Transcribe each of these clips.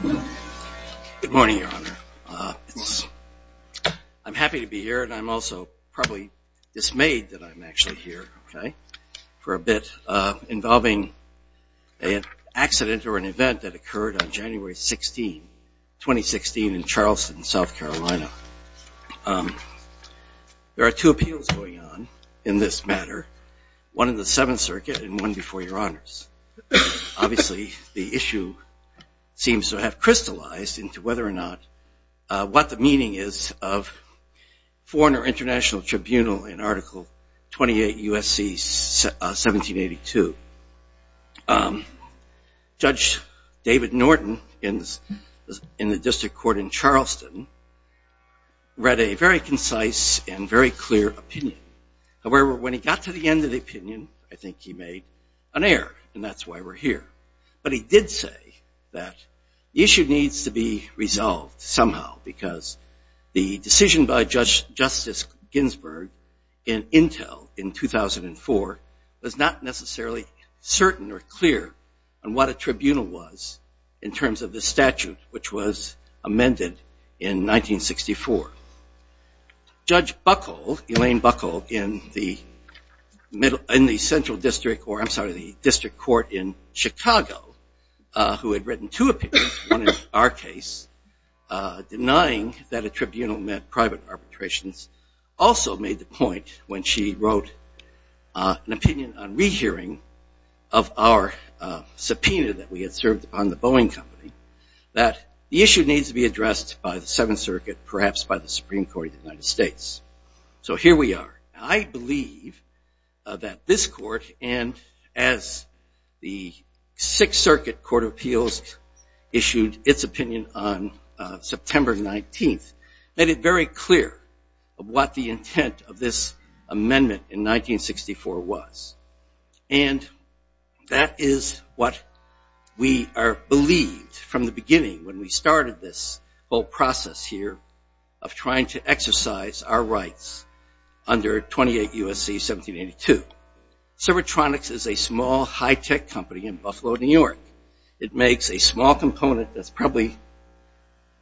Good morning, Your Honor. I'm happy to be here and I'm also probably dismayed that I'm actually here, okay, for a bit involving an accident or an event that occurred on January 16, 2016 in Charleston, South Carolina. There are two appeals going on in this matter, one in the Seventh Circuit and one before Your Honor. The two have crystallized into whether or not what the meaning is of Foreign or International Tribunal in Article 28 U.S.C. 1782. Judge David Norton in the District Court in Charleston read a very concise and very clear opinion. However, when he got to the end of the opinion, I think he made an error, and that's why we're here. But he did say that the issue needs to be resolved somehow because the decision by Judge Justice Ginsburg in Intel in 2004 was not necessarily certain or clear on what a tribunal was in terms of the statute which was amended in 1964. Judge Buckle, Elaine Buckle, in the middle, in the Central District, or I'm sorry, the District Court in Chicago, who had written two opinions, one in our case, denying that a tribunal meant private arbitrations, also made the point when she wrote an opinion on rehearing of our subpoena that we had served on the Boeing Company that the issue needs to be addressed by the Seventh Circuit, perhaps by the Supreme Court of the United States. So here we are. I believe that this Court, and as the Sixth Circuit Court of Appeals issued its opinion on September 19th, made it very clear of what the intent of this amendment in 1964 was. And that is what we are believed from the beginning when we started this whole process here of trying to exercise our rights under 28 U.S.C. 1782. Servotronics is a small, high-tech company in Buffalo, New York. It makes a small component that's probably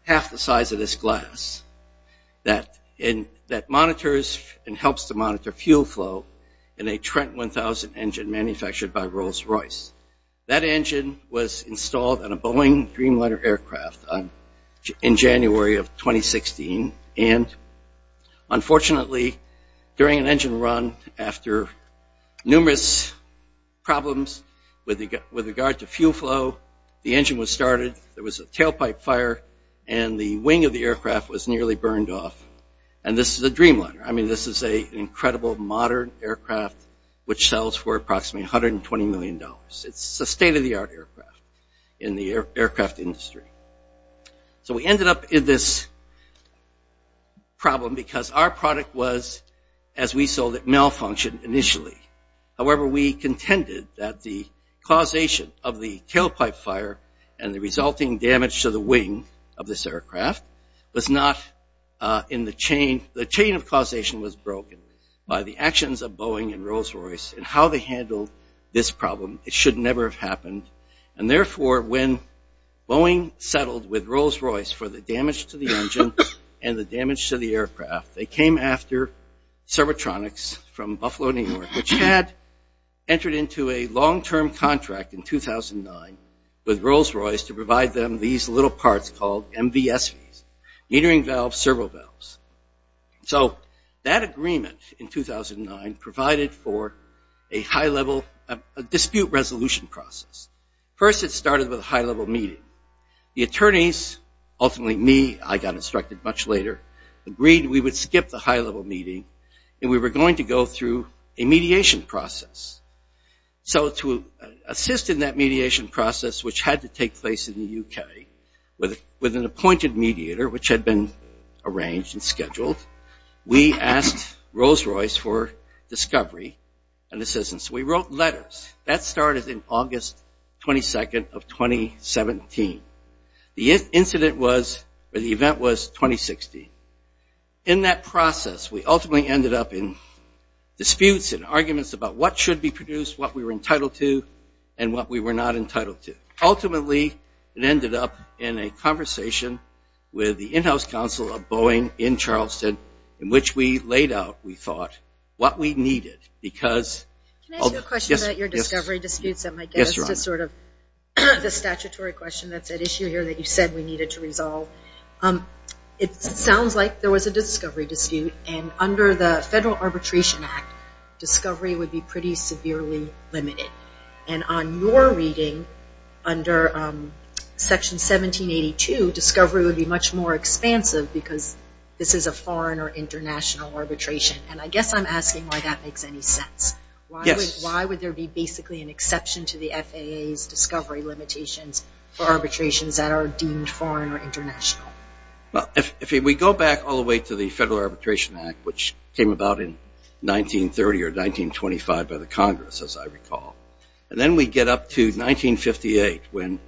half the size of this glass that monitors and helps to monitor fuel flow in a Trent 1000 engine manufactured by in January of 2016. And unfortunately, during an engine run after numerous problems with regard to fuel flow, the engine was started, there was a tailpipe fire, and the wing of the aircraft was nearly burned off. And this is a dreamliner. I mean, this is an incredible modern aircraft which sells for approximately 120 million dollars. It's a state-of-the-art aircraft in the So we ended up in this problem because our product was, as we saw, malfunctioned initially. However, we contended that the causation of the tailpipe fire and the resulting damage to the wing of this aircraft was not in the chain. The chain of causation was broken by the actions of Boeing and Rolls-Royce in how they handled this problem. It should never have happened. And therefore, when Boeing settled with Rolls-Royce for the damage to the engine and the damage to the aircraft, they came after Servotronics from Buffalo, New York, which had entered into a long-term contract in 2009 with Rolls-Royce to provide them these little parts called MVSVs, metering valve servo valves. So that agreement in 2009 provided for a high-level dispute resolution process. First, it started with a high-level meeting. The attorneys, ultimately me, I got instructed much later, agreed we would skip the high-level meeting and we were going to go through a mediation process. So to assist in that mediation process, which had to take place in the UK, with an appointed mediator, which had been arranged and scheduled, we asked Rolls-Royce for discovery and assistance. We wrote letters. That started in August 22nd of 2017. The incident was, or the event was, 2016. In that process, we ultimately ended up in disputes and arguments about what should be produced, what we were entitled to, and what we were not entitled to. Ultimately, it ended up in a conversation with the in-house counsel of Boeing in Charleston, in which we laid out, we thought, what we were entitled to. I have a question about your discovery disputes that might get us to sort of, the statutory question that's at issue here that you said we needed to resolve. It sounds like there was a discovery dispute, and under the Federal Arbitration Act, discovery would be pretty severely limited. And on your reading, under Section 1782, discovery would be much more expansive because this is a foreign or international arbitration. And I guess I'm asking why that makes any sense. Why would there be basically an exception to the FAA's discovery limitations for arbitrations that are deemed foreign or international? Well, if we go back all the way to the Federal Arbitration Act, which came about in 1930 or 1925 by the Congress, as I recall, and then we get up to 1958 when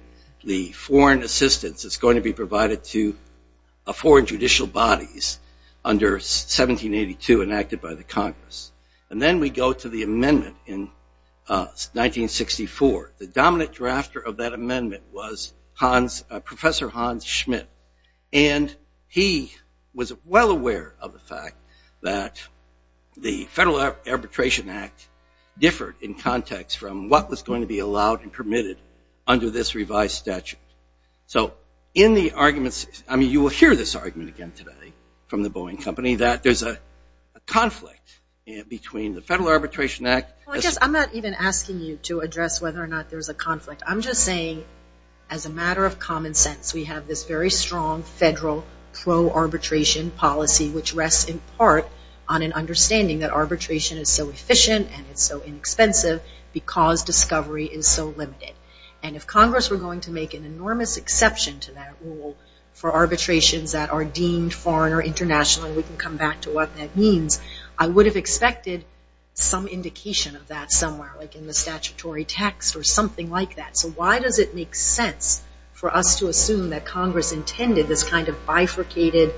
the foreign assistance is going to be provided to foreign judicial bodies under 1782 enacted by the Congress. And then we go to the amendment in 1964. The dominant drafter of that amendment was Hans, Professor Hans Schmidt. And he was well aware of the fact that the Federal Arbitration Act differed in context from what was going to be allowed and permitted under this revised statute. So in the arguments, I mean, you will hear this argument again today from the Boeing Company, that there's a conflict between the Federal Arbitration Act. Well, I guess I'm not even asking you to address whether or not there's a conflict. I'm just saying, as a matter of common sense, we have this very strong federal pro-arbitration policy, which rests in part on an understanding that arbitration is so efficient and it's so inexpensive because discovery is so limited. And if Congress were going to make an enormous exception to that rule for arbitrations that are deemed foreign or international, and we can come back to what that means, I would have expected some indication of that somewhere, like in the statutory text or something like that. So why does it make sense for us to assume that Congress intended this kind of bifurcated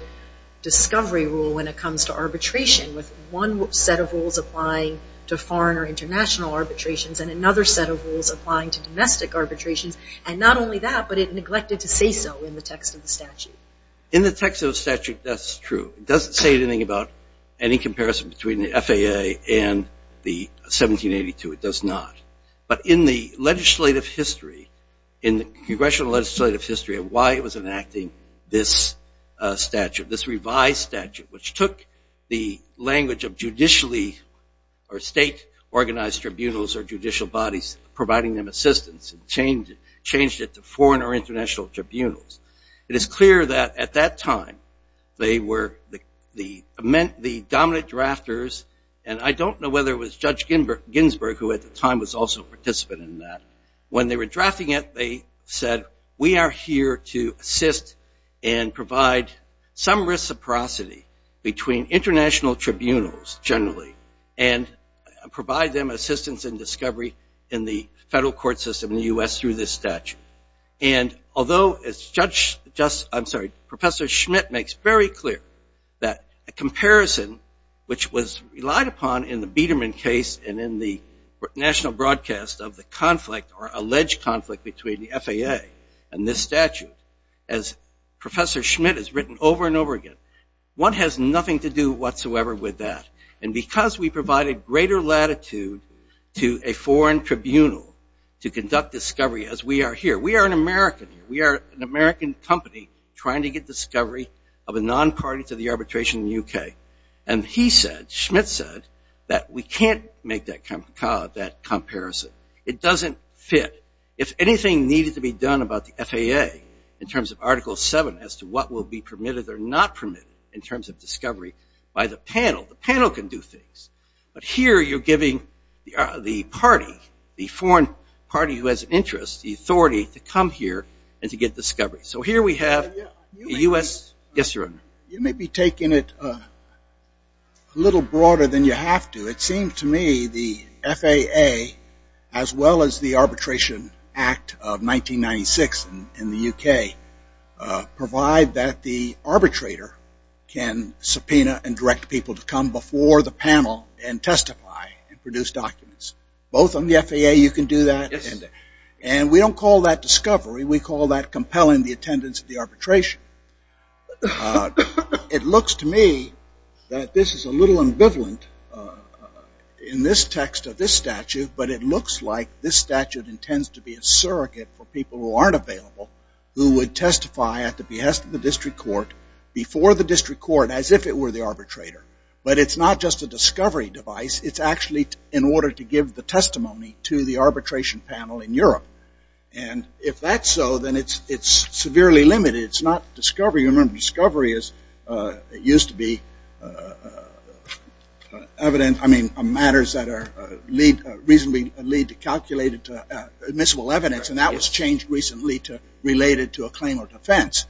discovery rule when it comes to arbitration with one set of rules applying to foreign or international arbitrations and another set of rules applying to domestic arbitrations? And not only that, but it neglected to say so in the text of the statute. In the text of the statute, that's true. It doesn't say anything about any comparison between the FAA and the 1782. It does not. But in the legislative history, in the congressional legislative history of why it was enacting this statute, this revised statute, which took the language of state organized tribunals or judicial bodies, providing them assistance, and changed it to foreign or international tribunals. It is clear that at that time, they were the dominant drafters, and I don't know whether it was Judge Ginsburg, who at the time was also a participant in that. When they were drafting it, they said, we are here to assist and provide some reciprocity between international tribunals, generally, and provide them assistance in discovery in the federal court system in the U.S. through this statute. And although it's Judge, I'm sorry, Professor Schmidt makes very clear that a comparison, which was relied upon in the Biedermann case and in the national broadcast of the conflict or alleged conflict between the FAA and this statute, as Professor Schmidt has written over and over again, one has nothing to do whatsoever with that. And because we provided greater latitude to a foreign tribunal to conduct discovery as we are here. We are an American here. We are an American company trying to get discovery of a non-party to the arbitration in the U.K. And he said, Schmidt said, that we can't make that comparison. It doesn't fit. If anything needed to be done about the FAA in terms of Article 7 as to what will be permitted or not permitted in terms of discovery by the panel, the panel can do things. But here you're giving the party, the foreign party who has interest, the authority to come here and to get discovery. So here we have the U.S. Yes, Your Honor. You may be taking it a little broader than you have to. It seems to me the FAA as well as the Arbitration Act of 1996 in the U.K. provide that the arbitrator can subpoena and direct people to come before the panel and testify and produce documents. Both on the FAA you can do that. And we don't call that discovery. We call that compelling the attendance of the arbitration. It looks to me that this is a little ambivalent in this text of this statute, but it looks like this statute intends to be a surrogate for people who aren't available who would testify at the behest of the district court before the district court as if it were the arbitrator. But it's not just a discovery device. It's actually in order to give the testimony to the arbitration panel in Europe. And if that's so, then it's severely limited. It's not discovery. You remember discovery used to be evidence, I mean, matters that are reasonably calculated to admissible evidence. And that was changed recently to related to a claim or defense.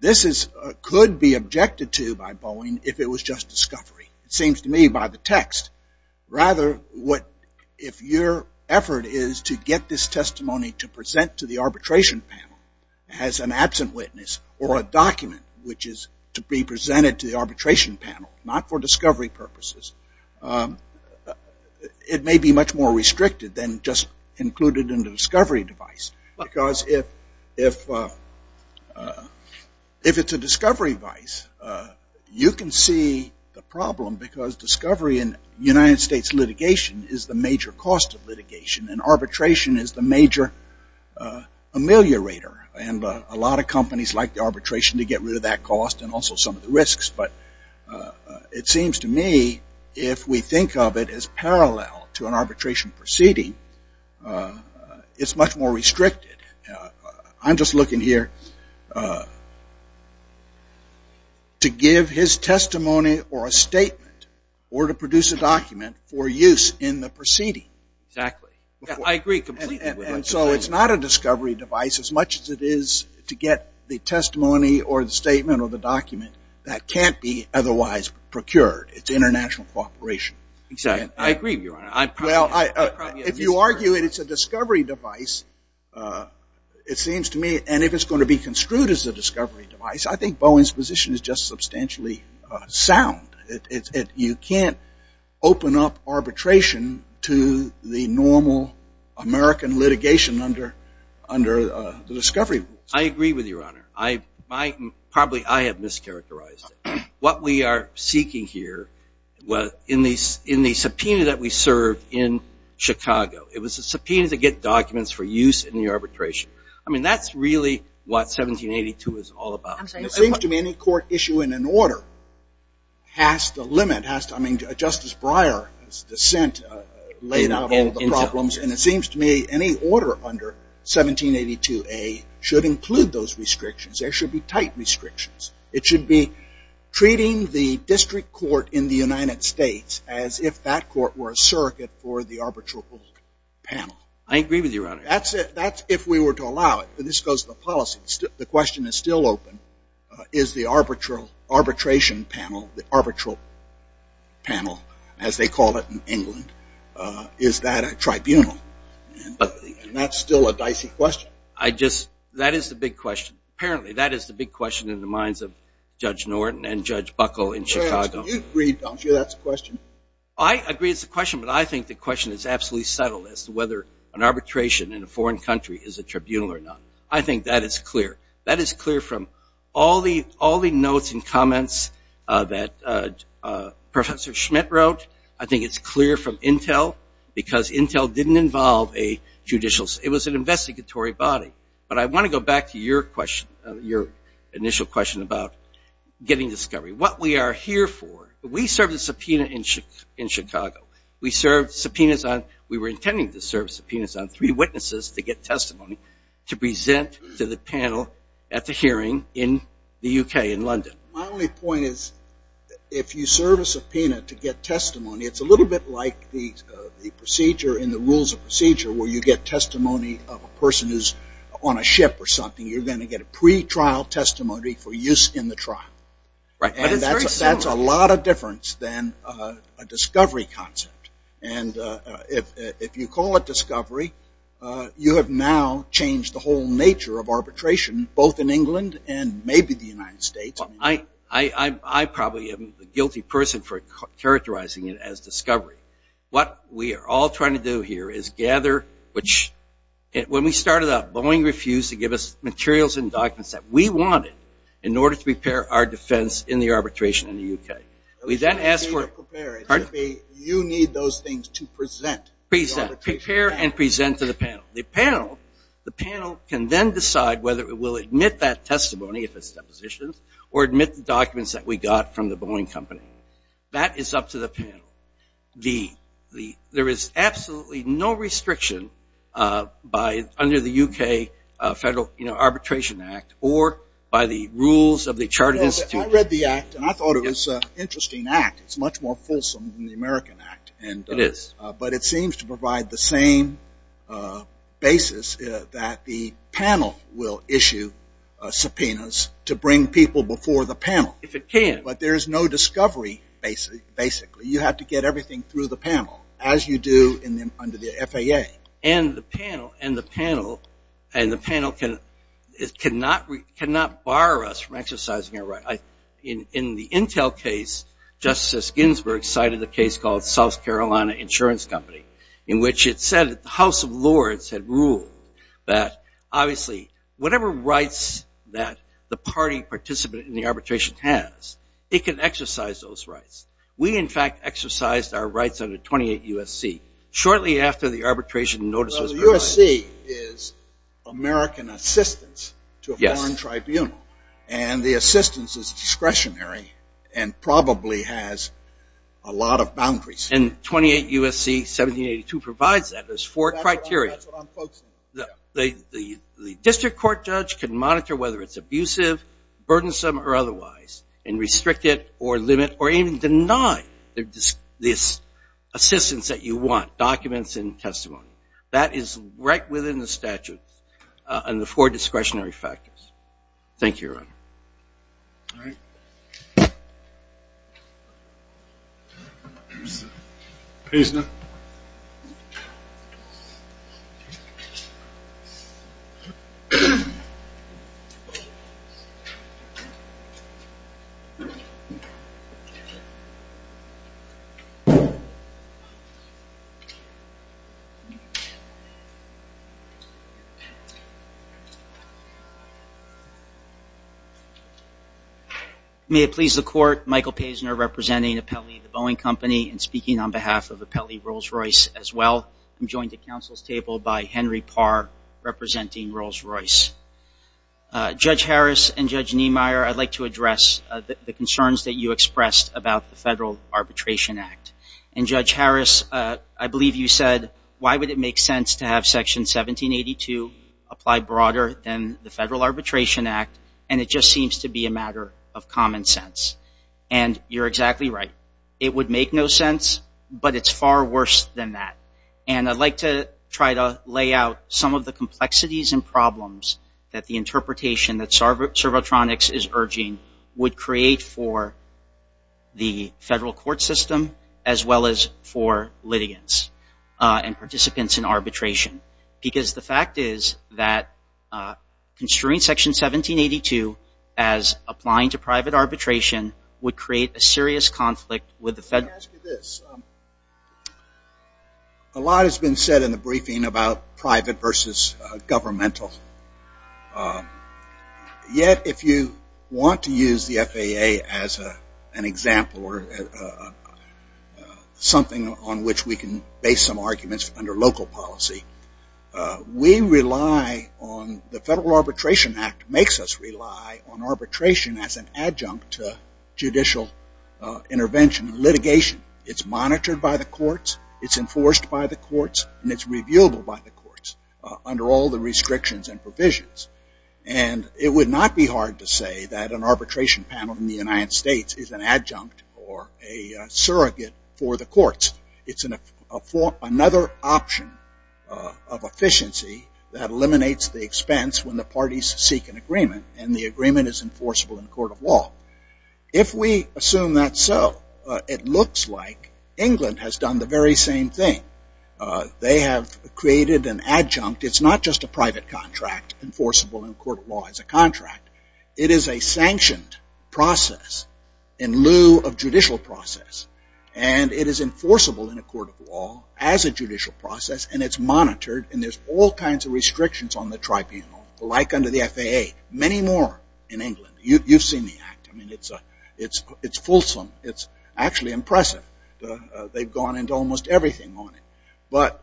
This could be objected to by Boeing if it was just discovery. It seems to me by the way, if your effort is to get this testimony to present to the arbitration panel as an absent witness or a document which is to be presented to the arbitration panel, not for discovery purposes, it may be much more restricted than just included in the discovery device. Because if it's a discovery device, you can see the problem because discovery in United States litigation is the major cost of litigation. And arbitration is the major ameliorator. And a lot of companies like the arbitration to get rid of that cost and also some of the risks. But it seems to me if we think of it as parallel to an arbitration proceeding, it's much more restricted. I'm just looking here to give his testimony or a statement or to produce a document for use in the proceeding. Exactly. I agree completely. And so it's not a discovery device as much as it is to get the testimony or the statement or the document that can't be otherwise procured. It's international cooperation. Exactly. I agree with you, Your Honor. Well, if you argue it's a discovery device, it seems to me, and if it's going to be construed as a discovery device, I think Boeing's just substantially sound. You can't open up arbitration to the normal American litigation under the discovery rules. I agree with you, Your Honor. Probably I have mischaracterized it. What we are seeking here in the subpoena that we served in Chicago, it was a subpoena to get documents for use in the arbitration. I mean, that's really what 1782 is all about. It seems to me any court issue in an order has to limit, has to, I mean, Justice Breyer's dissent laid out all the problems, and it seems to me any order under 1782A should include those restrictions. There should be tight restrictions. It should be treating the district court in the United States as if that court were a surrogate for the to allow it. This goes to the policy. The question is still open. Is the arbitration panel, the arbitral panel, as they call it in England, is that a tribunal? And that's still a dicey question. I just, that is the big question. Apparently, that is the big question in the minds of Judge Norton and Judge Buckle in Chicago. You agree, don't you, that's the question? I agree it's a question, but I think the question is absolutely settled as to whether an arbitration is a tribunal or not. I think that is clear. That is clear from all the notes and comments that Professor Schmidt wrote. I think it's clear from Intel, because Intel didn't involve a judicial, it was an investigatory body. But I want to go back to your question, your initial question about getting discovery. What we are here for, we served a subpoena in Chicago. We served subpoenas on, we were intending to serve subpoenas on three to present to the panel at the hearing in the UK, in London. My only point is if you serve a subpoena to get testimony, it's a little bit like the procedure in the Rules of Procedure where you get testimony of a person who's on a ship or something. You're going to get a pre-trial testimony for use in the trial. Right, but it's very similar. That's a lot of difference than a discovery concept. And if you call it discovery, you have now changed the whole nature of arbitration, both in England and maybe the United States. I probably am a guilty person for characterizing it as discovery. What we are all trying to do here is gather, which when we started up, Boeing refused to give us materials and documents that we wanted in order to prepare our defense in the arbitration in the UK. We then asked for... You need those things to present. Present, prepare and present to the panel. The panel, the panel can then decide whether it will admit that testimony if it's depositions or admit the documents that we got from the Boeing company. That is up to the panel. The, the, there is absolutely no restriction by, under the UK Federal Arbitration Act or by the U.S. Borders. Interesting act. It's much more fulsome than the American Act. It is. But it seems to provide the same basis that the panel will issue subpoenas to bring people before the panel. If it can. But there is no discovery, basically. You have to get everything through the panel, as you do in the, under the FAA. And the panel, and the panel, and the panel can, cannot, cannot bar us from the intel case, Justice Ginsburg cited the case called South Carolina Insurance Company, in which it said that the House of Lords had ruled that, obviously, whatever rights that the party participant in the arbitration has, it can exercise those rights. We, in fact, exercised our rights under 28 U.S.C. shortly after the arbitration notice was released. Well, the U.S.C. is American assistance to a foreign tribunal. Yes. And the assistance is discretionary and probably has a lot of boundaries. And 28 U.S.C. 1782 provides that. There's four criteria. That's what I'm focusing on. The, the, the district court judge can monitor whether it's abusive, burdensome, or otherwise, and restrict it, or limit, or even deny this assistance that you want, documents and testimony. That is right within the four discretionary factors. Thank you, Your Honor. May it please the court, Michael Pazner representing Apelli, the Boeing Company, and speaking on behalf of Apelli Rolls-Royce, as well. I'm joined at counsel's table by Henry Parr, representing Rolls-Royce. Judge Harris and Judge Niemeyer, I'd like to address the concerns that you expressed about the Federal Arbitration Act. And Judge Harris, I believe you said, why would it make sense to have Section 1782 apply broader than the Federal Arbitration Act, and it just seems to be a matter of common sense. And you're exactly right. It would make no sense, but it's far worse than that. And I'd like to try to lay out some of the complexities and problems that the interpretation that Servotronics is urging would create for the Federal Arbitration. Because the fact is that constraining Section 1782 as applying to private arbitration would create a serious conflict with the Federal Arbitration Act. Let me ask you this. A lot has been said in the briefing about private versus governmental. Yet, if you want to use the FAA as an example, or something on which we can base some arguments under local policy, the Federal Arbitration Act makes us rely on arbitration as an adjunct to judicial intervention and litigation. It's monitored by the courts, it's enforced by the courts, and it's reviewable by the courts under all the restrictions and provisions. And it would not be hard to say that an arbitration panel in the United States is an adjunct or another option of efficiency that eliminates the expense when the parties seek an agreement and the agreement is enforceable in a court of law. If we assume that's so, it looks like England has done the very same thing. They have created an adjunct. It's not just a private contract enforceable in a court of law as a contract. It is a sanctioned process in view of judicial process. And it is enforceable in a court of law as a judicial process and it's monitored and there's all kinds of restrictions on the tribunal, like under the FAA. Many more in England. You've seen the act. I mean, it's fulsome. It's actually impressive. They've gone into almost everything on it. But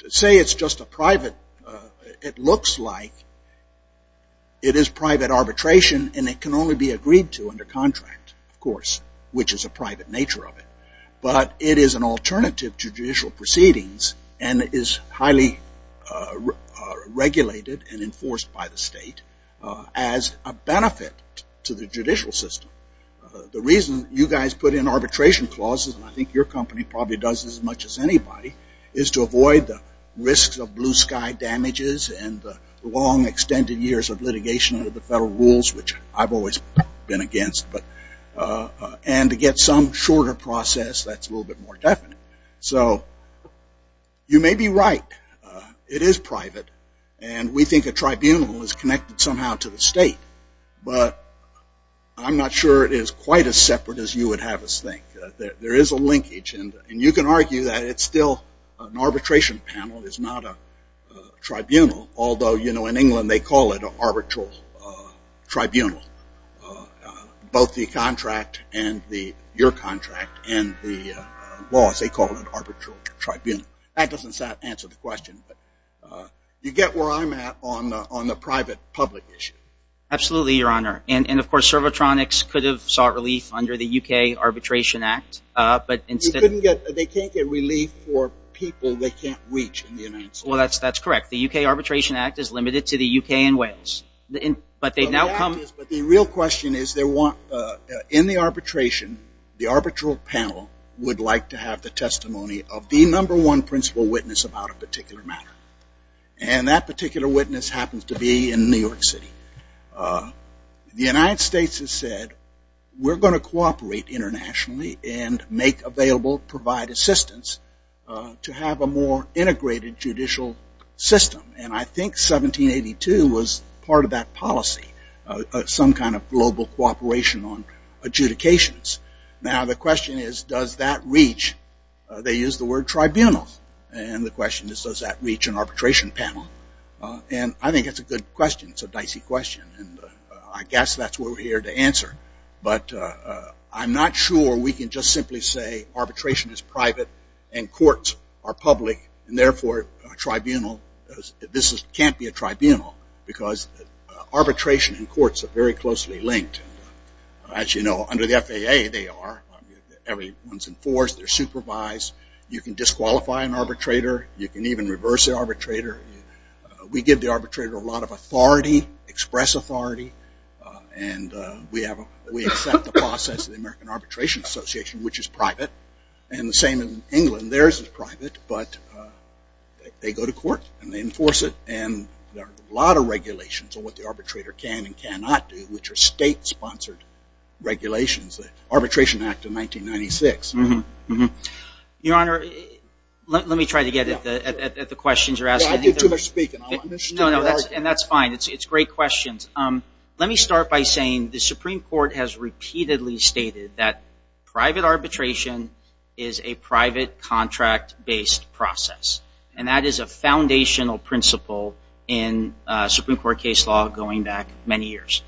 to say it's just a private, it looks like it is private arbitration and it can only be agreed to under contract, of course, which is a private nature of it. But it is an alternative to judicial proceedings and it is highly regulated and enforced by the state as a benefit to the judicial system. The reason you guys put in arbitration clauses, and I think your company probably does as much as anybody, is to avoid the risks of blue sky damages and long extended years of litigation under the federal rules, which I've always been against. And to get some shorter process that's a little bit more definite. So you may be right. It is private and we think a tribunal is connected somehow to the state. But I'm not sure it is quite as separate as you would have us think. There is not a tribunal, although in England they call it an arbitral tribunal. Both the contract and your contract and the laws, they call it an arbitral tribunal. That doesn't answer the question. You get where I'm at on the private public issue. Absolutely, your honor. And of course, Servotronics could have sought relief under the UK Arbitration Act. They can't get relief for people they can't reach in the United States. That's correct. The UK Arbitration Act is limited to the UK and Wales. But the real question is, in the arbitration, the arbitral panel would like to have the testimony of the number one principal witness about a particular matter. And that particular witness happens to be in New York City. The United States has said, we're going to cooperate internationally and make available, provide assistance to have a more integrated judicial system. And I think 1782 was part of that policy. Some kind of global cooperation on adjudications. Now, the question is, does that reach? They use the word tribunal. And the question is, does that reach an arbitration panel? And I think that's a good question. It's a dicey question. And I guess that's what we're here to answer. But I'm not sure we can just simply say arbitration is private and courts are public. And therefore, a tribunal, this can't be a tribunal. Because arbitration and courts are very closely linked. As you know, under the FAA, they are. Everyone's enforced. They're supervised. You can disqualify an arbitrator. You can even reverse the arbitrator. We give the arbitrator a lot of authority express authority. And we have, we accept the process of the American Arbitration Association, which is private. And the same in England. Theirs is private. But they go to court and they enforce it. And there are a lot of regulations on what the arbitrator can and cannot do, which are state-sponsored regulations. The Arbitration Act of 1996. Your Honor, let me try to get at the questions you're asking. I think you're too much speaking. I want to understand your argument. And that's fine. It's great questions. Let me start by saying the Supreme Court has repeatedly stated that private arbitration is a private contract-based process. And that is a foundational principle in Supreme Court case law going back many years.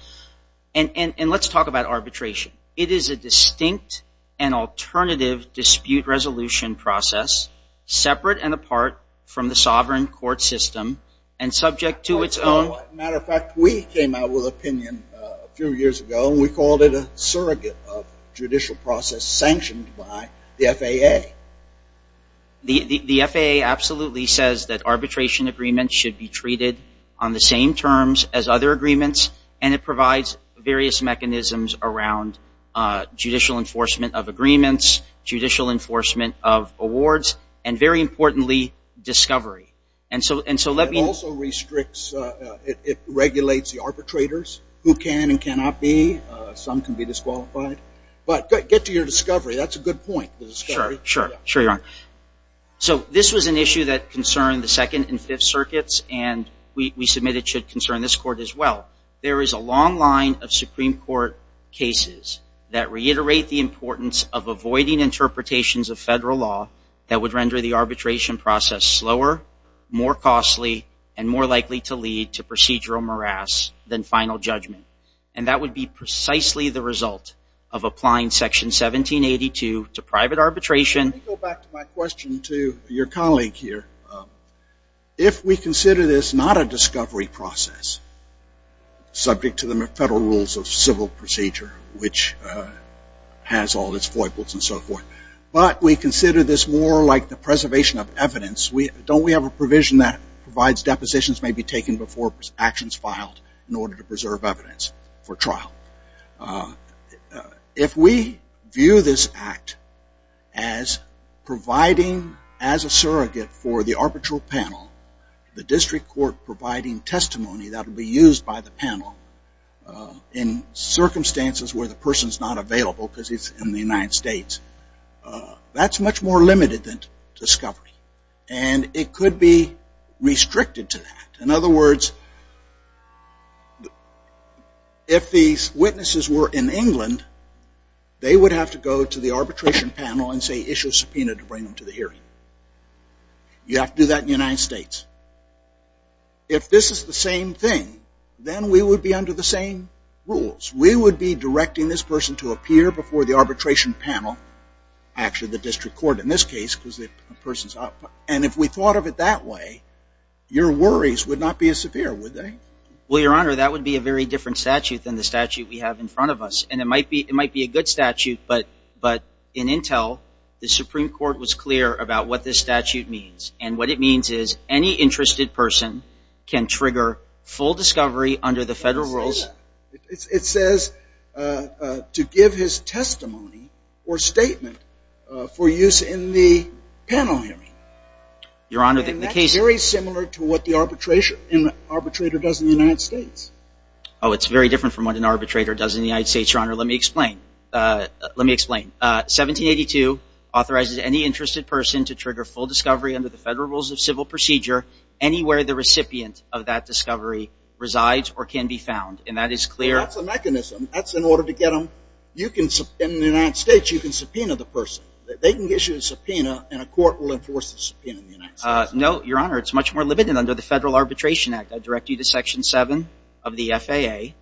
And let's talk about arbitration. It is a distinct and alternative dispute resolution process, separate and apart from the sovereign court system, and subject to its own... As a matter of fact, we came out with an opinion a few years ago. And we called it a surrogate of judicial process sanctioned by the FAA. The FAA absolutely says that arbitration agreements should be treated on the same terms as other agreements. And it provides various mechanisms around judicial enforcement of agreements, judicial enforcement of awards, and very importantly, discovery. And so let me... It also restricts... It regulates the arbitrators, who can and cannot be. Some can be disqualified. But get to your discovery. That's a good point. Sure. Sure. Sure, Your Honor. So this was an issue that concerned the Second and Fifth Circuits, and we submitted it should concern this court as well. There is a long line of Supreme Court cases that reiterate the importance of avoiding interpretations of federal law that would render the arbitration process slower, more costly, and more likely to lead to procedural morass than final judgment. And that would be precisely the result of applying Section 1782 to private arbitration... Let me go back to my question to your colleague here. If we consider this not a which has all of its foibles and so forth, but we consider this more like the preservation of evidence, don't we have a provision that provides depositions may be taken before actions filed in order to preserve evidence for trial? If we view this act as providing as a surrogate for the arbitral panel, the district court providing testimony that will be used by the panel in circumstances where the person is not available because it's in the United States, that's much more limited than discovery. And it could be restricted to that. In other words, if these witnesses were in England, they would have to go to the arbitration panel and say issue a subpoena to bring them to the hearing. You have to do that in the United States. If this is the same thing, then we would be under the same rules. We would be directing this person to appear before the arbitration panel, actually the district court in this case, because the person's... And if we thought of it that way, your worries would not be as severe, would they? Well, Your Honor, that would be a very different statute than the statute we have in front of us. And it might be a good statute, but in intel, the Supreme Court was clear about what this statute means. And what it means is any interested person can trigger full discovery under the federal rules. It says to give his testimony or statement for use in the panel hearing. Your Honor, the case... And that's very similar to what the arbitrator does in the United States. Oh, it's very different from what an arbitrator does in the United States, Your Honor. Let me explain. 1782 authorizes any interested person to trigger full discovery under the federal rules of civil procedure anywhere the recipient of that discovery resides or can be found. And that is clear... That's a mechanism. That's in order to get them... In the United States, you can subpoena the person. They can issue a subpoena, and a court will enforce the subpoena in the United States. No, Your Honor. It's much more limited under the Federal Arbitration Act. I direct you to Section 7 of the FAA.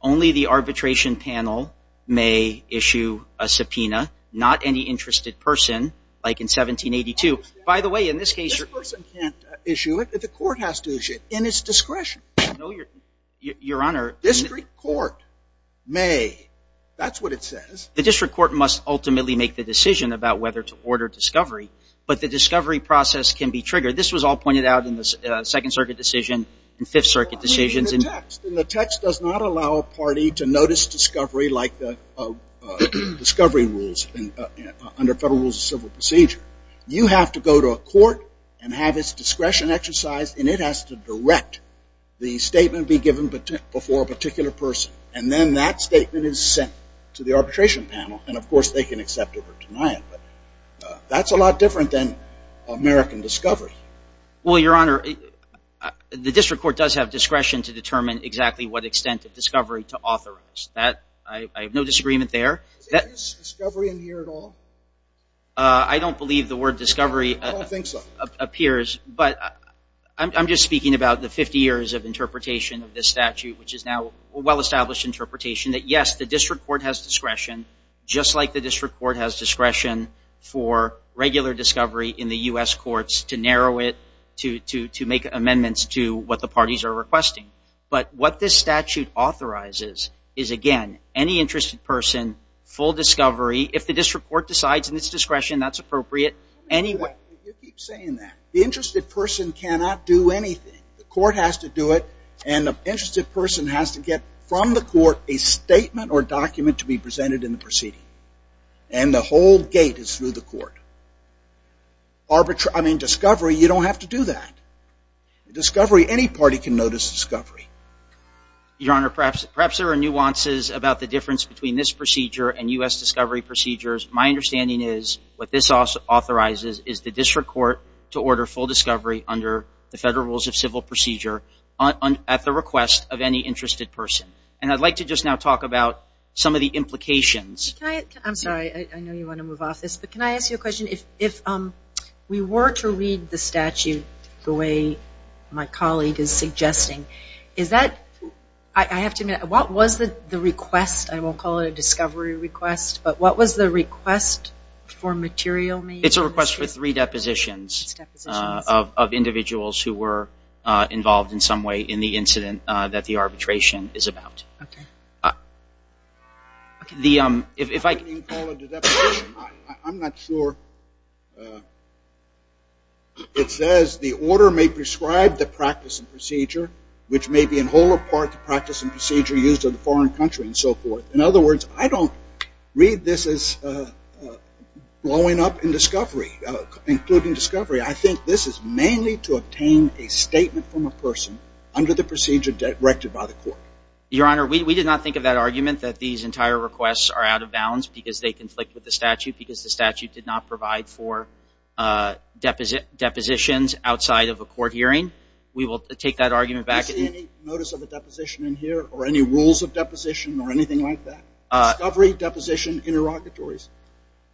Only the arbitration panel may issue a subpoena. Not any interested person, like in 1782. By the way, in this case... This person can't issue it, but the court has to issue it in its discretion. No, Your Honor. The district court may. That's what it says. The district court must ultimately make the decision about whether to order discovery, but the discovery process can be triggered. This was all pointed out in the Second Circuit decision and Fifth Circuit decisions. In the text. In the text does not allow a party to notice discovery like the discovery rules under federal rules of civil procedure. You have to go to a court and have its discretion exercised, and it has to direct the statement be given before a particular person. And then that statement is sent to the arbitration panel, and of course they can accept it or deny it. But that's a lot different than American discovery. Well, Your Honor, the district court does have discretion to determine exactly what extent of discovery to authorize. I have no disagreement there. Is discovery in here at all? I don't believe the word discovery... I don't think so. ...appears, but I'm just speaking about the 50 years of interpretation of this statute, which is now a well-established interpretation that yes, the district court has discretion, just like the district court has discretion for regular discovery in the U.S. courts to narrow it, to make amendments to what the parties are requesting. But what this statute authorizes is, again, any interested person, full discovery, if the district court decides in its discretion that's appropriate, anyway... You keep saying that. The interested person cannot do anything. The court has to do it, and the interested person has to get from the court a statement or document to be presented in the proceeding. And the whole gate is through the court. I mean, discovery, you don't have to do that. Discovery, any party can notice discovery. Your Honor, perhaps there are nuances about the difference between this procedure and U.S. discovery procedures. My understanding is what this authorizes is the district court to order full discovery under the federal rules of civil procedure at the request of any interested person. And I'd like to just now talk about some of the implications. I'm sorry, I know you want to move off this, but can I ask you a question? If we were to read the statute the way my colleague is suggesting, is that, I have to admit, what was the request? I won't call it a discovery request, but what was the request for material made? It's a request for three depositions of individuals who were involved in some way in the incident that the arbitration is about. I'm not sure. It says the order may prescribe the practice and procedure, which may be in whole or part the practice and procedure used in a foreign country and so forth. In other words, I don't read this as blowing up in discovery, including from a person under the procedure directed by the court. Your Honor, we did not think of that argument that these entire requests are out of bounds because they conflict with the statute, because the statute did not provide for depositions outside of a court hearing. We will take that argument back. Do you see any notice of a deposition in here or any rules of deposition or anything like that? Discovery, deposition, interrogatories?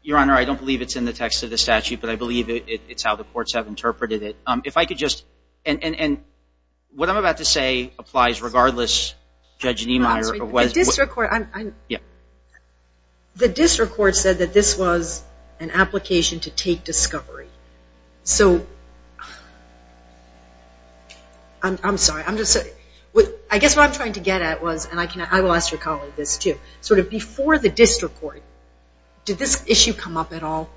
Your Honor, I don't believe it's in the text of the statute, but I believe it's how the courts have interpreted it. If I What I'm about to say applies regardless, Judge Niemeyer. The district court said that this was an application to take discovery. I guess what I'm trying to get at was, and I will ask your colleague this too, before the district court, did this issue come up at all?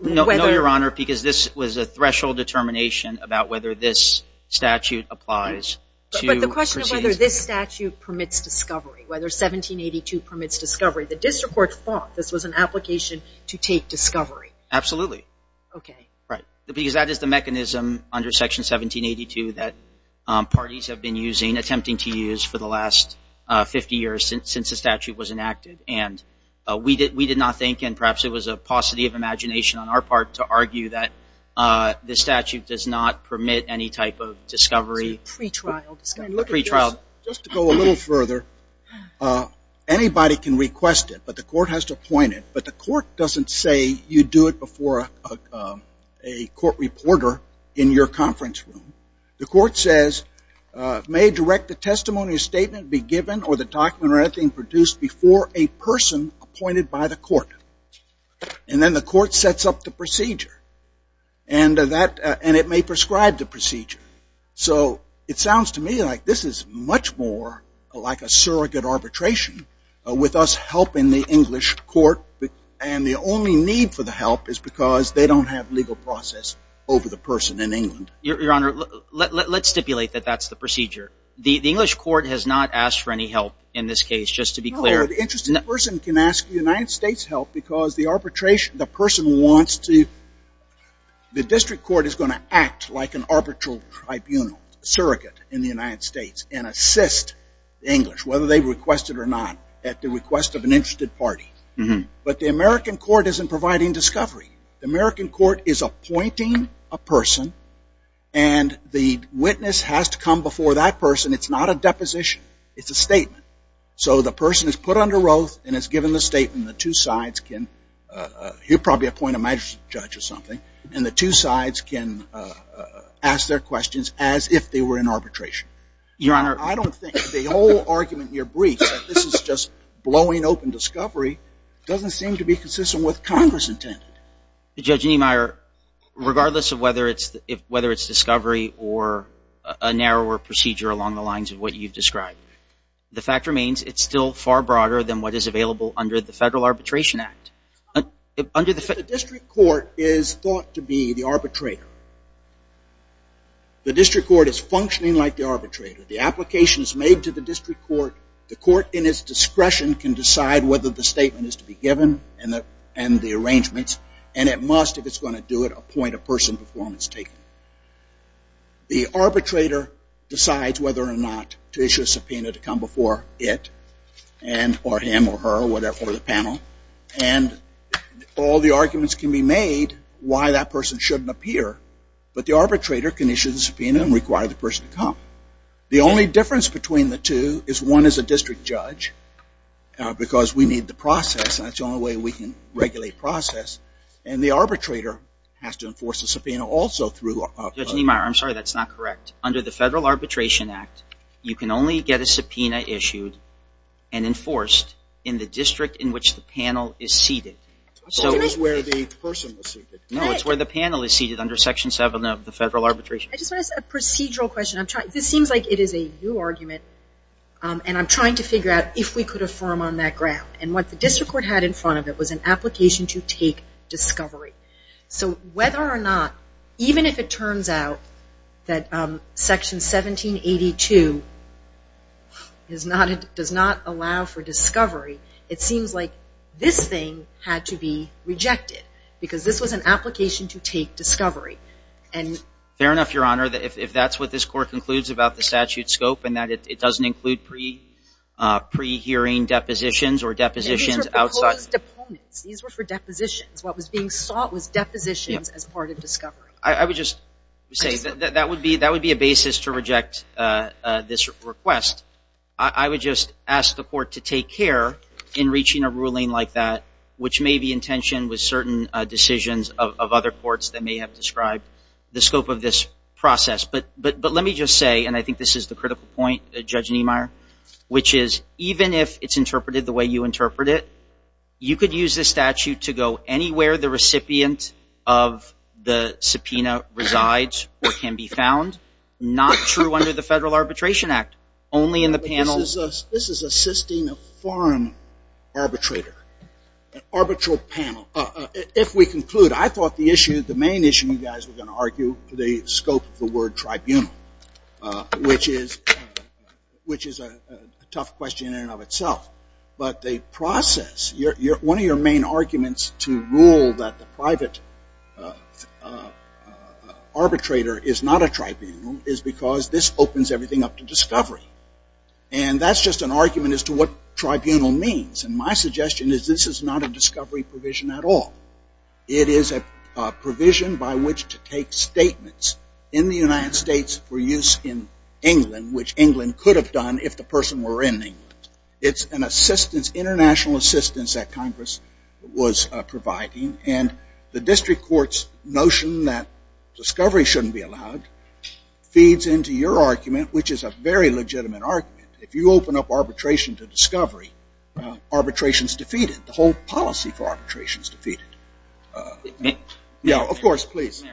No, Your Honor, because this was a threshold determination about whether this statute applies. But the question of whether this statute permits discovery, whether 1782 permits discovery, the district court thought this was an application to take discovery. Absolutely. Because that is the mechanism under Section 1782 that parties have been attempting to use for the last 50 years since the statute was enacted. We did not think, and perhaps it was a paucity of imagination on our part, to argue that the statute does not permit any type of discovery. Just to go a little further, anybody can request it, but the court has to appoint it. But the court doesn't say you do it before a court reporter in your conference room. The court says, may direct the testimony or statement be given or the document or anything produced before a person appointed by the court. And then the court sets up the procedure. And it may prescribe the procedure. So it sounds to me like this is much more like a surrogate arbitration with us helping the English court. And the only need for the help is because they don't have legal process over the person in England. Your Honor, let's stipulate that that's the procedure. The English United States help because the arbitration, the person wants to, the district court is going to act like an arbitral tribunal, surrogate in the United States, and assist the English, whether they request it or not, at the request of an interested party. But the American court isn't providing discovery. The American court is appointing a person and the witness has to come before that person. It's not a deposition. It's a statement. So the person is put under oath and is the two sides can, he'll probably appoint a magistrate judge or something, and the two sides can ask their questions as if they were in arbitration. Your Honor. I don't think the whole argument in your brief that this is just blowing open discovery doesn't seem to be consistent with Congress intended. Judge Niemeyer, regardless of whether it's discovery or a narrower procedure along the lines of what you've described, the fact remains it's still far broader than what is under the Federal Arbitration Act. The district court is thought to be the arbitrator. The district court is functioning like the arbitrator. The application is made to the district court. The court in its discretion can decide whether the statement is to be given and the arrangements, and it must, if it's going to do it, appoint a person before it's taken. The arbitrator decides whether or not to issue a subpoena to come before it or him or her or the panel, and all the arguments can be made why that person shouldn't appear, but the arbitrator can issue the subpoena and require the person to come. The only difference between the two is one is a district judge because we need the process, and that's the only way we can regulate process, and the arbitrator has to enforce the subpoena also through... Judge Niemeyer, I'm sorry, that's not correct. Under the Federal Arbitration Act, you can only get a subpoena issued and enforced in the district in which the panel is seated. So it's where the person was seated. No, it's where the panel is seated under Section 7 of the Federal Arbitration Act. I just want to ask a procedural question. This seems like it is a new argument, and I'm trying to figure out if we could affirm on that ground, and what the district court had in front of it was an application to take discovery. So whether or not, even if it does not allow for discovery, it seems like this thing had to be rejected because this was an application to take discovery. Fair enough, Your Honor. If that's what this court concludes about the statute scope and that it doesn't include pre-hearing depositions or depositions outside... These were proposed opponents. These were for depositions. What was being sought was depositions as part of discovery. I would just say that would be a basis to reject this request. I would just ask the court to take care in reaching a ruling like that, which may be intentioned with certain decisions of other courts that may have described the scope of this process. But let me just say, and I think this is the critical point, Judge Niemeyer, which is even if it's interpreted the way you interpret it, you could use this statute to go anywhere the recipient of the subpoena resides or can be found. Not true under the Federal Arbitration Act. Only in the panel... This is assisting a foreign arbitrator, an arbitral panel. If we conclude, I thought the issue, the main issue you guys were going to argue, the scope of the word tribunal, which is a tough question in and of itself. But the process, one of your main arguments to rule that the private arbitrator is not a tribunal is because this opens everything up to discovery. And that's just an argument as to what tribunal means. And my suggestion is this is not a discovery provision at all. It is a provision by which to take statements in the United States for use in England, which England could have done if the person were in England. It's an international assistance that Congress was providing. And the district court's notion that discovery shouldn't be allowed feeds into your argument, which is a very legitimate argument. If you open up arbitration to discovery, arbitration is defeated. The whole policy for arbitration is defeated. Of course, please.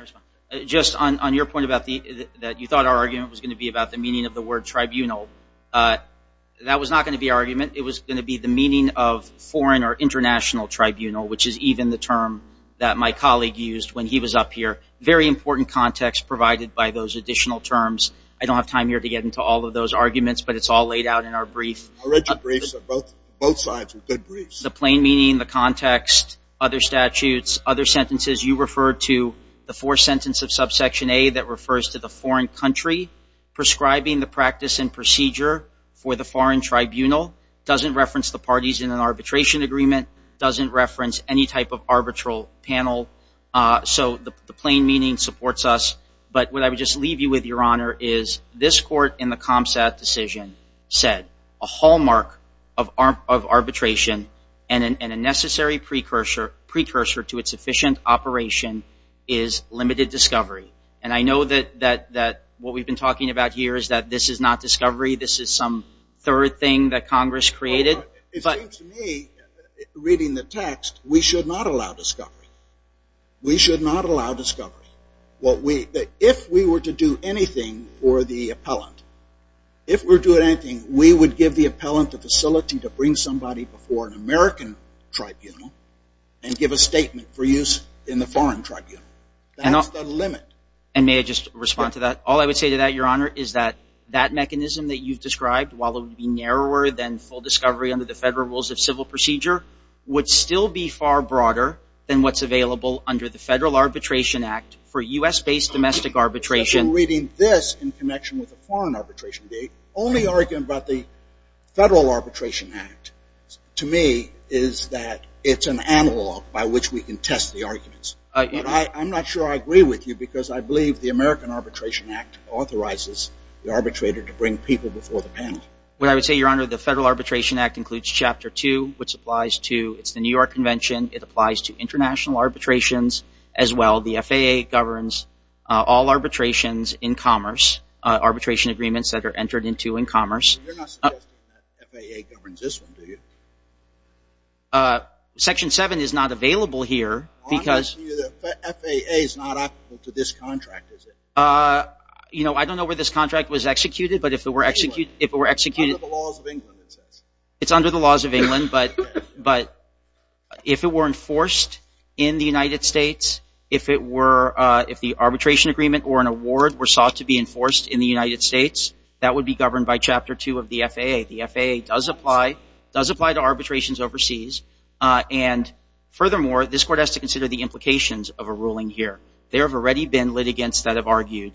Just on your point that you thought our argument was going to be about the meaning of the word tribunal, that was not going to be our argument. It was going to be the meaning of foreign or international tribunal, which is even the term that my colleague used when he was up here. Very important context provided by those additional terms. I don't have time here to get into all of those arguments, but it's all laid out in our brief. I read your briefs. Both sides were good briefs. The plain meaning, the context, other statutes, other sentences. You referred to the fourth sentence of subsection A that refers to a foreign country prescribing the practice and procedure for the foreign tribunal. Doesn't reference the parties in an arbitration agreement. Doesn't reference any type of arbitral panel. So the plain meaning supports us. But what I would just leave you with, Your Honor, is this court in the CompStat decision said a hallmark of arbitration and a necessary precursor to its operation is limited discovery. And I know that what we've been talking about here is that this is not discovery. This is some third thing that Congress created. It seems to me, reading the text, we should not allow discovery. We should not allow discovery. If we were to do anything for the appellant, if we're doing anything, we would give the appellant the facility to bring somebody before an American tribunal and give a statement for use in the foreign tribunal. That's the limit. And may I just respond to that? All I would say to that, Your Honor, is that that mechanism that you've described, while it would be narrower than full discovery under the federal rules of civil procedure, would still be far broader than what's available under the Federal Arbitration Act for U.S.-based domestic arbitration. As you're reading this in connection with the foreign arbitration, the only argument about the Federal Arbitration Act, to me, is that it's an analog by which we can test the arguments. But I'm not sure I agree with you because I believe the American Arbitration Act authorizes the arbitrator to bring people before the panel. Well, I would say, Your Honor, the Federal Arbitration Act includes Chapter 2, which applies to the New York Convention. It applies to international arbitrations as well. The FAA governs all arbitrations in commerce, arbitration agreements that are entered into in commerce. You're not suggesting that FAA governs this one, do you? Section 7 is not available here because... I'm telling you that FAA is not applicable to this contract, is it? You know, I don't know where this contract was executed, but if it were executed... It's under the laws of England, it says. It's under the laws of England, but if it were enforced in the United States, if the arbitration agreement or an award were sought to be enforced in the United States, that would be governed by Chapter 2 of the FAA. The FAA does apply to arbitrations overseas. And furthermore, this Court has to consider the implications of a ruling here. There have already been litigants that have argued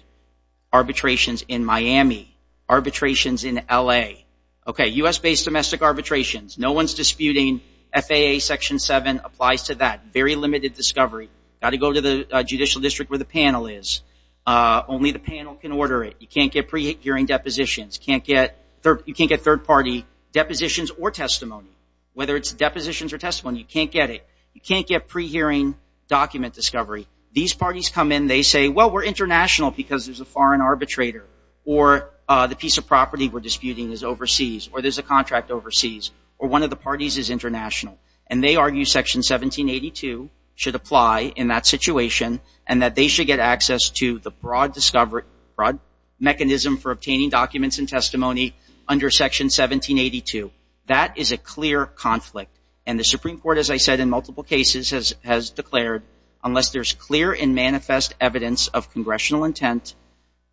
arbitrations in Miami, arbitrations in L.A. Okay, U.S.-based domestic arbitrations, no one's disputing FAA Section 7 applies to that. Very limited discovery. Got to go to the judicial district where the panel is. Only the panel can order it. You can't get pre-hearing depositions. You can't get third-party depositions or testimony. Whether it's depositions or testimony, you can't get it. You can't get pre-hearing document discovery. These parties come in, they say, well, we're international because there's a foreign arbitrator. Or the piece of property we're disputing is overseas. Or there's a contract overseas. Or one of the parties is international. And they argue Section 1782 should apply in that situation. And that they should get access to the broad discovery, broad mechanism for obtaining documents and testimony under Section 1782. That is a clear conflict. And the Supreme Court, as I said, in multiple cases has declared, unless there's clear and manifest evidence of congressional intent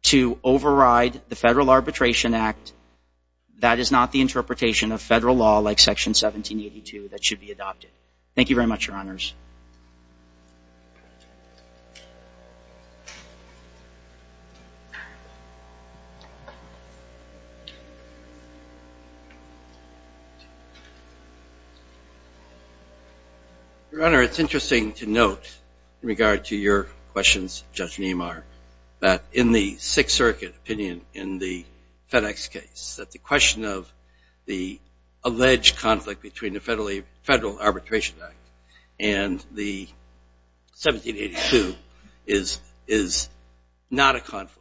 to override the Federal Arbitration Act, that is not the interpretation of federal law like Section 1782. That should be adopted. Thank you very much, Your Honors. Your Honor, it's interesting to note, in regard to your questions, Judge Niemar, that in the Sixth Circuit opinion in the FedEx case, that the question of the alleged conflict between the Federal Arbitration Act and the 1782 is not a conflict.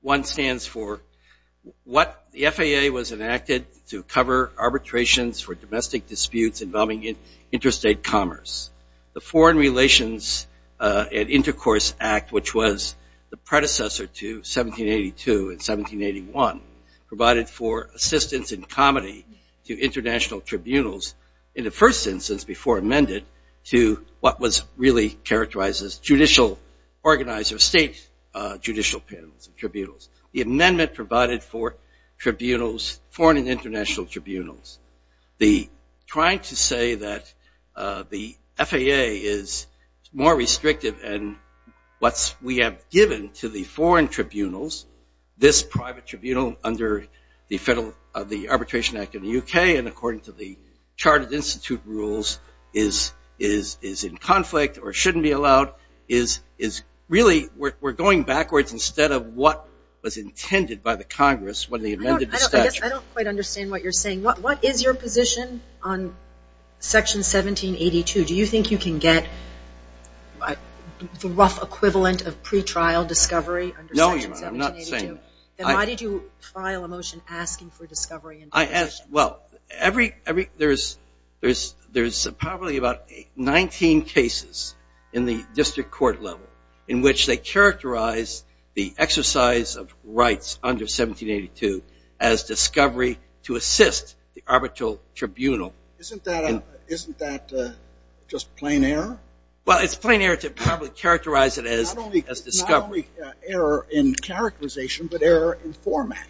One stands for what the FAA was enacted to cover arbitrations for domestic disputes involving interstate commerce. The Foreign Relations and Intercourse Act, which was the predecessor to 1782 and 1781, provided for assistance in comedy to international tribunals in the first instance before amended to what was really characterized as judicial organizer, state judicial panels and tribunals. The amendment provided for tribunals, foreign and international tribunals. The trying to say that the FAA is more restrictive and what we have given to the foreign tribunals, this private tribunal under the Federal Arbitration Act in the UK, and according to the Chartered Institute rules, is in conflict or shouldn't be allowed, is really, we're going backwards instead of what was intended by the Congress when they amended the statute. I don't quite understand what you're saying. What is your position on Section 1782? Do you think you can get the rough equivalent of pretrial discovery under Section 1782? I'm not saying that. Why did you file a motion asking for discovery? I asked, well, there's probably about 19 cases in the district court level in which they characterize the exercise of rights under 1782 as discovery to assist the arbitral tribunal. Isn't that just plain error? Well, it's plain error to probably characterize it as discovery. Error in characterization, but error in format.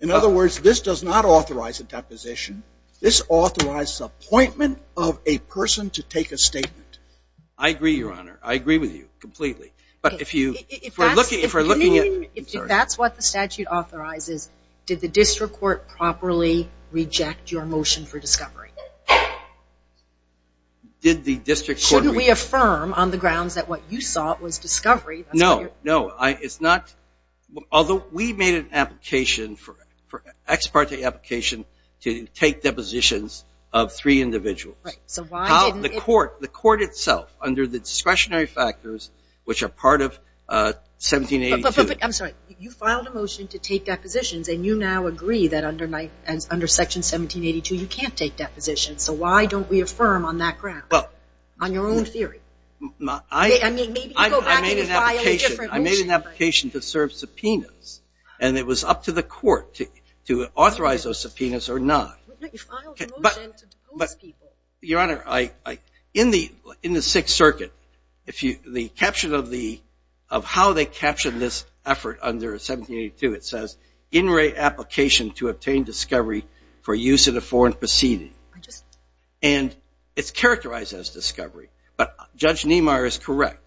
In other words, this does not authorize a deposition. This authorizes appointment of a person to take a statement. I agree, Your Honor. I agree with you completely. But if you, if we're looking at... If that's what the statute authorizes, did the district court properly reject your motion for discovery? Did the district court... Shouldn't we affirm on the grounds that what you sought was discovery? No, no, it's not. Although we made an application for, for ex parte application to take depositions of three individuals. Right, so why didn't... The court, the court itself, under the discretionary factors, which are part of 1782... I'm sorry, you filed a motion to take depositions and you now agree that under Section 1782, you can't take depositions. So why don't we affirm on that ground, on your own theory? I mean, maybe you can go back and file a different motion. I made an application to serve subpoenas and it was up to the court to authorize those subpoenas or not. But you filed a motion to depose people. Your Honor, I, in the, in the Sixth Circuit, if you, the caption of the, of how they captioned this effort under 1782, it says, in re application to obtain discovery for use in a foreign proceeding. And it's characterized as discovery. But Judge Niemeyer is correct.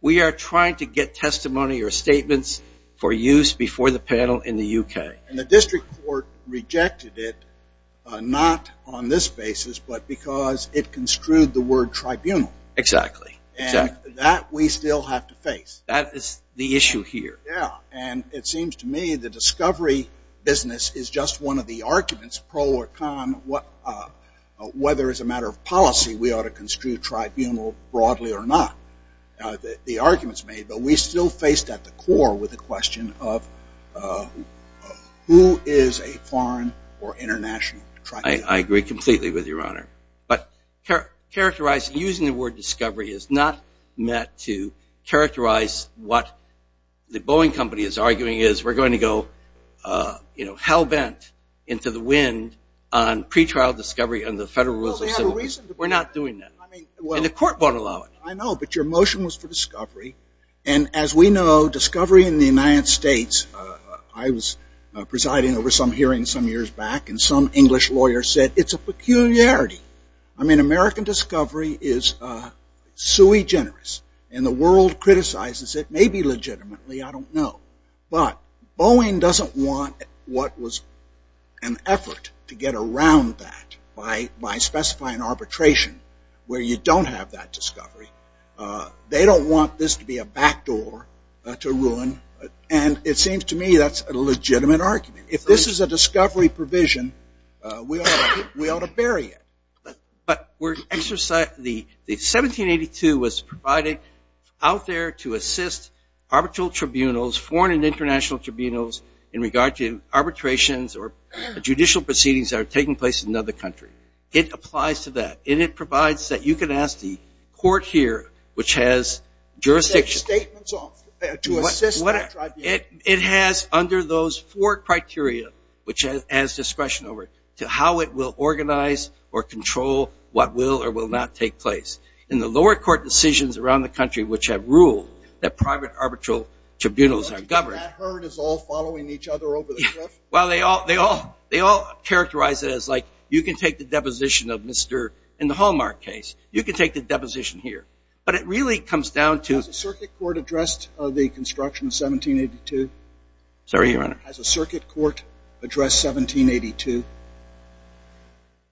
We are trying to get testimony or statements for use before the panel in the UK. And the district court rejected it, not on this basis, but because it construed the word tribunal. Exactly, exactly. And that we still have to face. That is the issue here. Yeah, and it seems to me the discovery business is just one of the arguments, pro or con, what, whether as a matter of policy we ought to construe tribunal broadly or not. The arguments made, but we still faced at the core with the question of who is a foreign or international tribunal. I agree completely with you, Your Honor. But characterize, using the word discovery is not meant to characterize what the Boeing company is arguing is we're going to go, you know, into the wind on pre-trial discovery and the federal rules. We're not doing that. The court won't allow it. I know, but your motion was for discovery. And as we know, discovery in the United States, I was presiding over some hearings some years back, and some English lawyer said, it's a peculiarity. I mean, American discovery is sui generis. And the world criticizes it, maybe legitimately, I don't know. But Boeing doesn't want what was an effort to get around that by specifying arbitration where you don't have that discovery. They don't want this to be a backdoor to ruin. And it seems to me that's a legitimate argument. If this is a discovery provision, we ought to bury it. But the 1782 was provided out there to assist arbitral tribunals, foreign and international tribunals, in regard to arbitrations or judicial proceedings that are taking place in another country. It applies to that. And it provides that you can ask the court here, which has jurisdiction. Take statements off to assist that tribunal. It has under those four criteria, which has discretion over it, how it will organize or control what will or will not take place. In the lower court decisions around the country, which have ruled that private arbitral tribunals are governed. But that herd is all following each other over the trip? Well, they all characterize it as like, you can take the deposition of Mr. In the Hallmark case, you can take the deposition here. But it really comes down to- Sorry, Your Honor. Has a circuit court addressed 1782?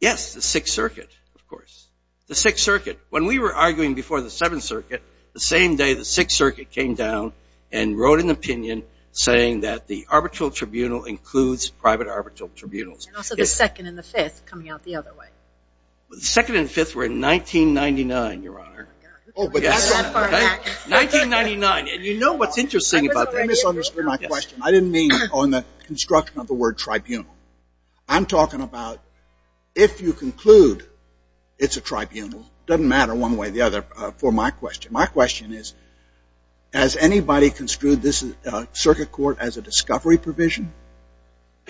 Yes, the Sixth Circuit, of course. The Sixth Circuit. When we were arguing before the Seventh Circuit, the same day the Sixth Circuit came down and wrote an opinion saying that the arbitral tribunal includes private arbitral tribunals. And also the Second and the Fifth coming out the other way. The Second and the Fifth were in 1999, Your Honor. Oh, but that's not that far back. 1999. And you know what's interesting about that. I misunderstood my question. I didn't mean on the construction of the word tribunal. I'm talking about, if you conclude it's a tribunal, doesn't matter one way or the other for my question. My question is, has anybody construed this circuit court as a discovery provision?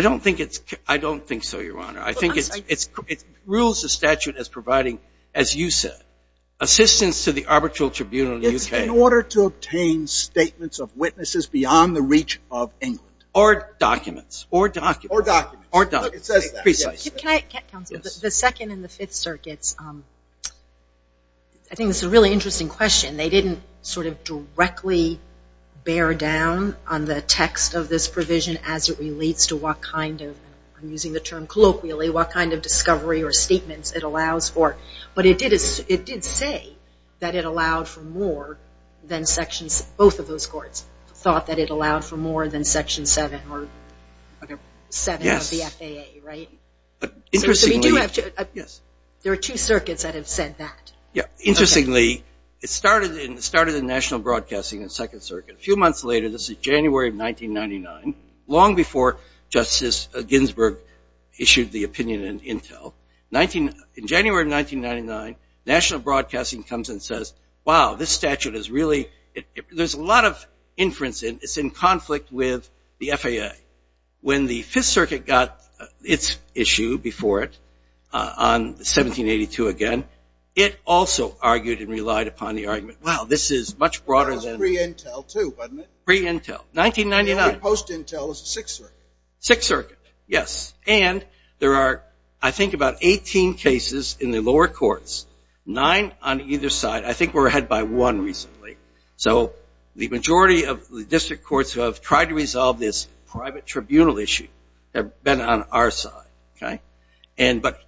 I don't think so, Your Honor. I think it rules the statute as providing, as you said, assistance to the arbitral tribunal in the UK. In order to obtain statements of witnesses beyond the reach of England. Or documents. Or documents. Or documents. Or documents. Precisely. Can I, counsel, the Second and the Fifth Circuits, I think it's a really interesting question. They didn't sort of directly bear down on the text of this provision as it relates to what kind of, I'm using the term colloquially, what kind of discovery or statements it allows for. But it did say that it allowed for more than Sections, both of those courts thought that it allowed for more than Section 7 or 7 of the FAA, right? Yes. Interestingly. There are two circuits that have said that. Yeah. Interestingly, it started in national broadcasting in the Second Circuit. A few months later, this is January of 1999, long before Justice Ginsburg issued the opinion in Intel. In January of 1999, National Broadcasting comes and says, wow, this statute is really, there's a lot of inference in it. It's in conflict with the FAA. When the Fifth Circuit got its issue before it on 1782 again, it also argued and relied upon the argument, wow, this is much broader than- That was pre-Intel too, wasn't it? Pre-Intel. 1999. The only post-Intel was the Sixth Circuit. Sixth Circuit. Yes. And there are, I think, about 18 cases in the lower courts. Nine on either side. I think we're ahead by one recently. So the majority of the district courts who have tried to resolve this private tribunal issue have been on our side, okay? But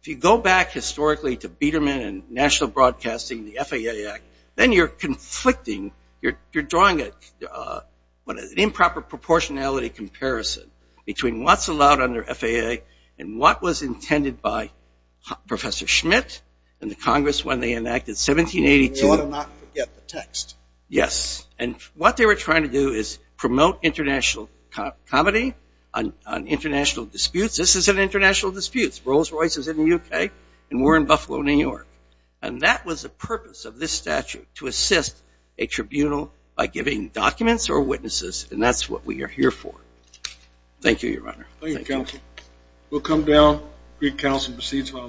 if you go back historically to Biderman and National Broadcasting, the FAA Act, then you're conflicting, you're drawing an improper proportionality comparison between what's allowed under FAA and what was intended by Professor Schmidt and the Congress when they enacted 1782- You ought to not forget the text. Yes. And what they were trying to do is promote international comedy on international disputes. This is an international dispute. Rolls-Royce is in the UK and we're in Buffalo, New York. And that was the purpose of this statute, to assist a tribunal by giving documents or witnesses, and that's what we are here for. Thank you, Your Honor. Thank you, Counsel. We'll come down. Greek Counsel proceeds to our last case.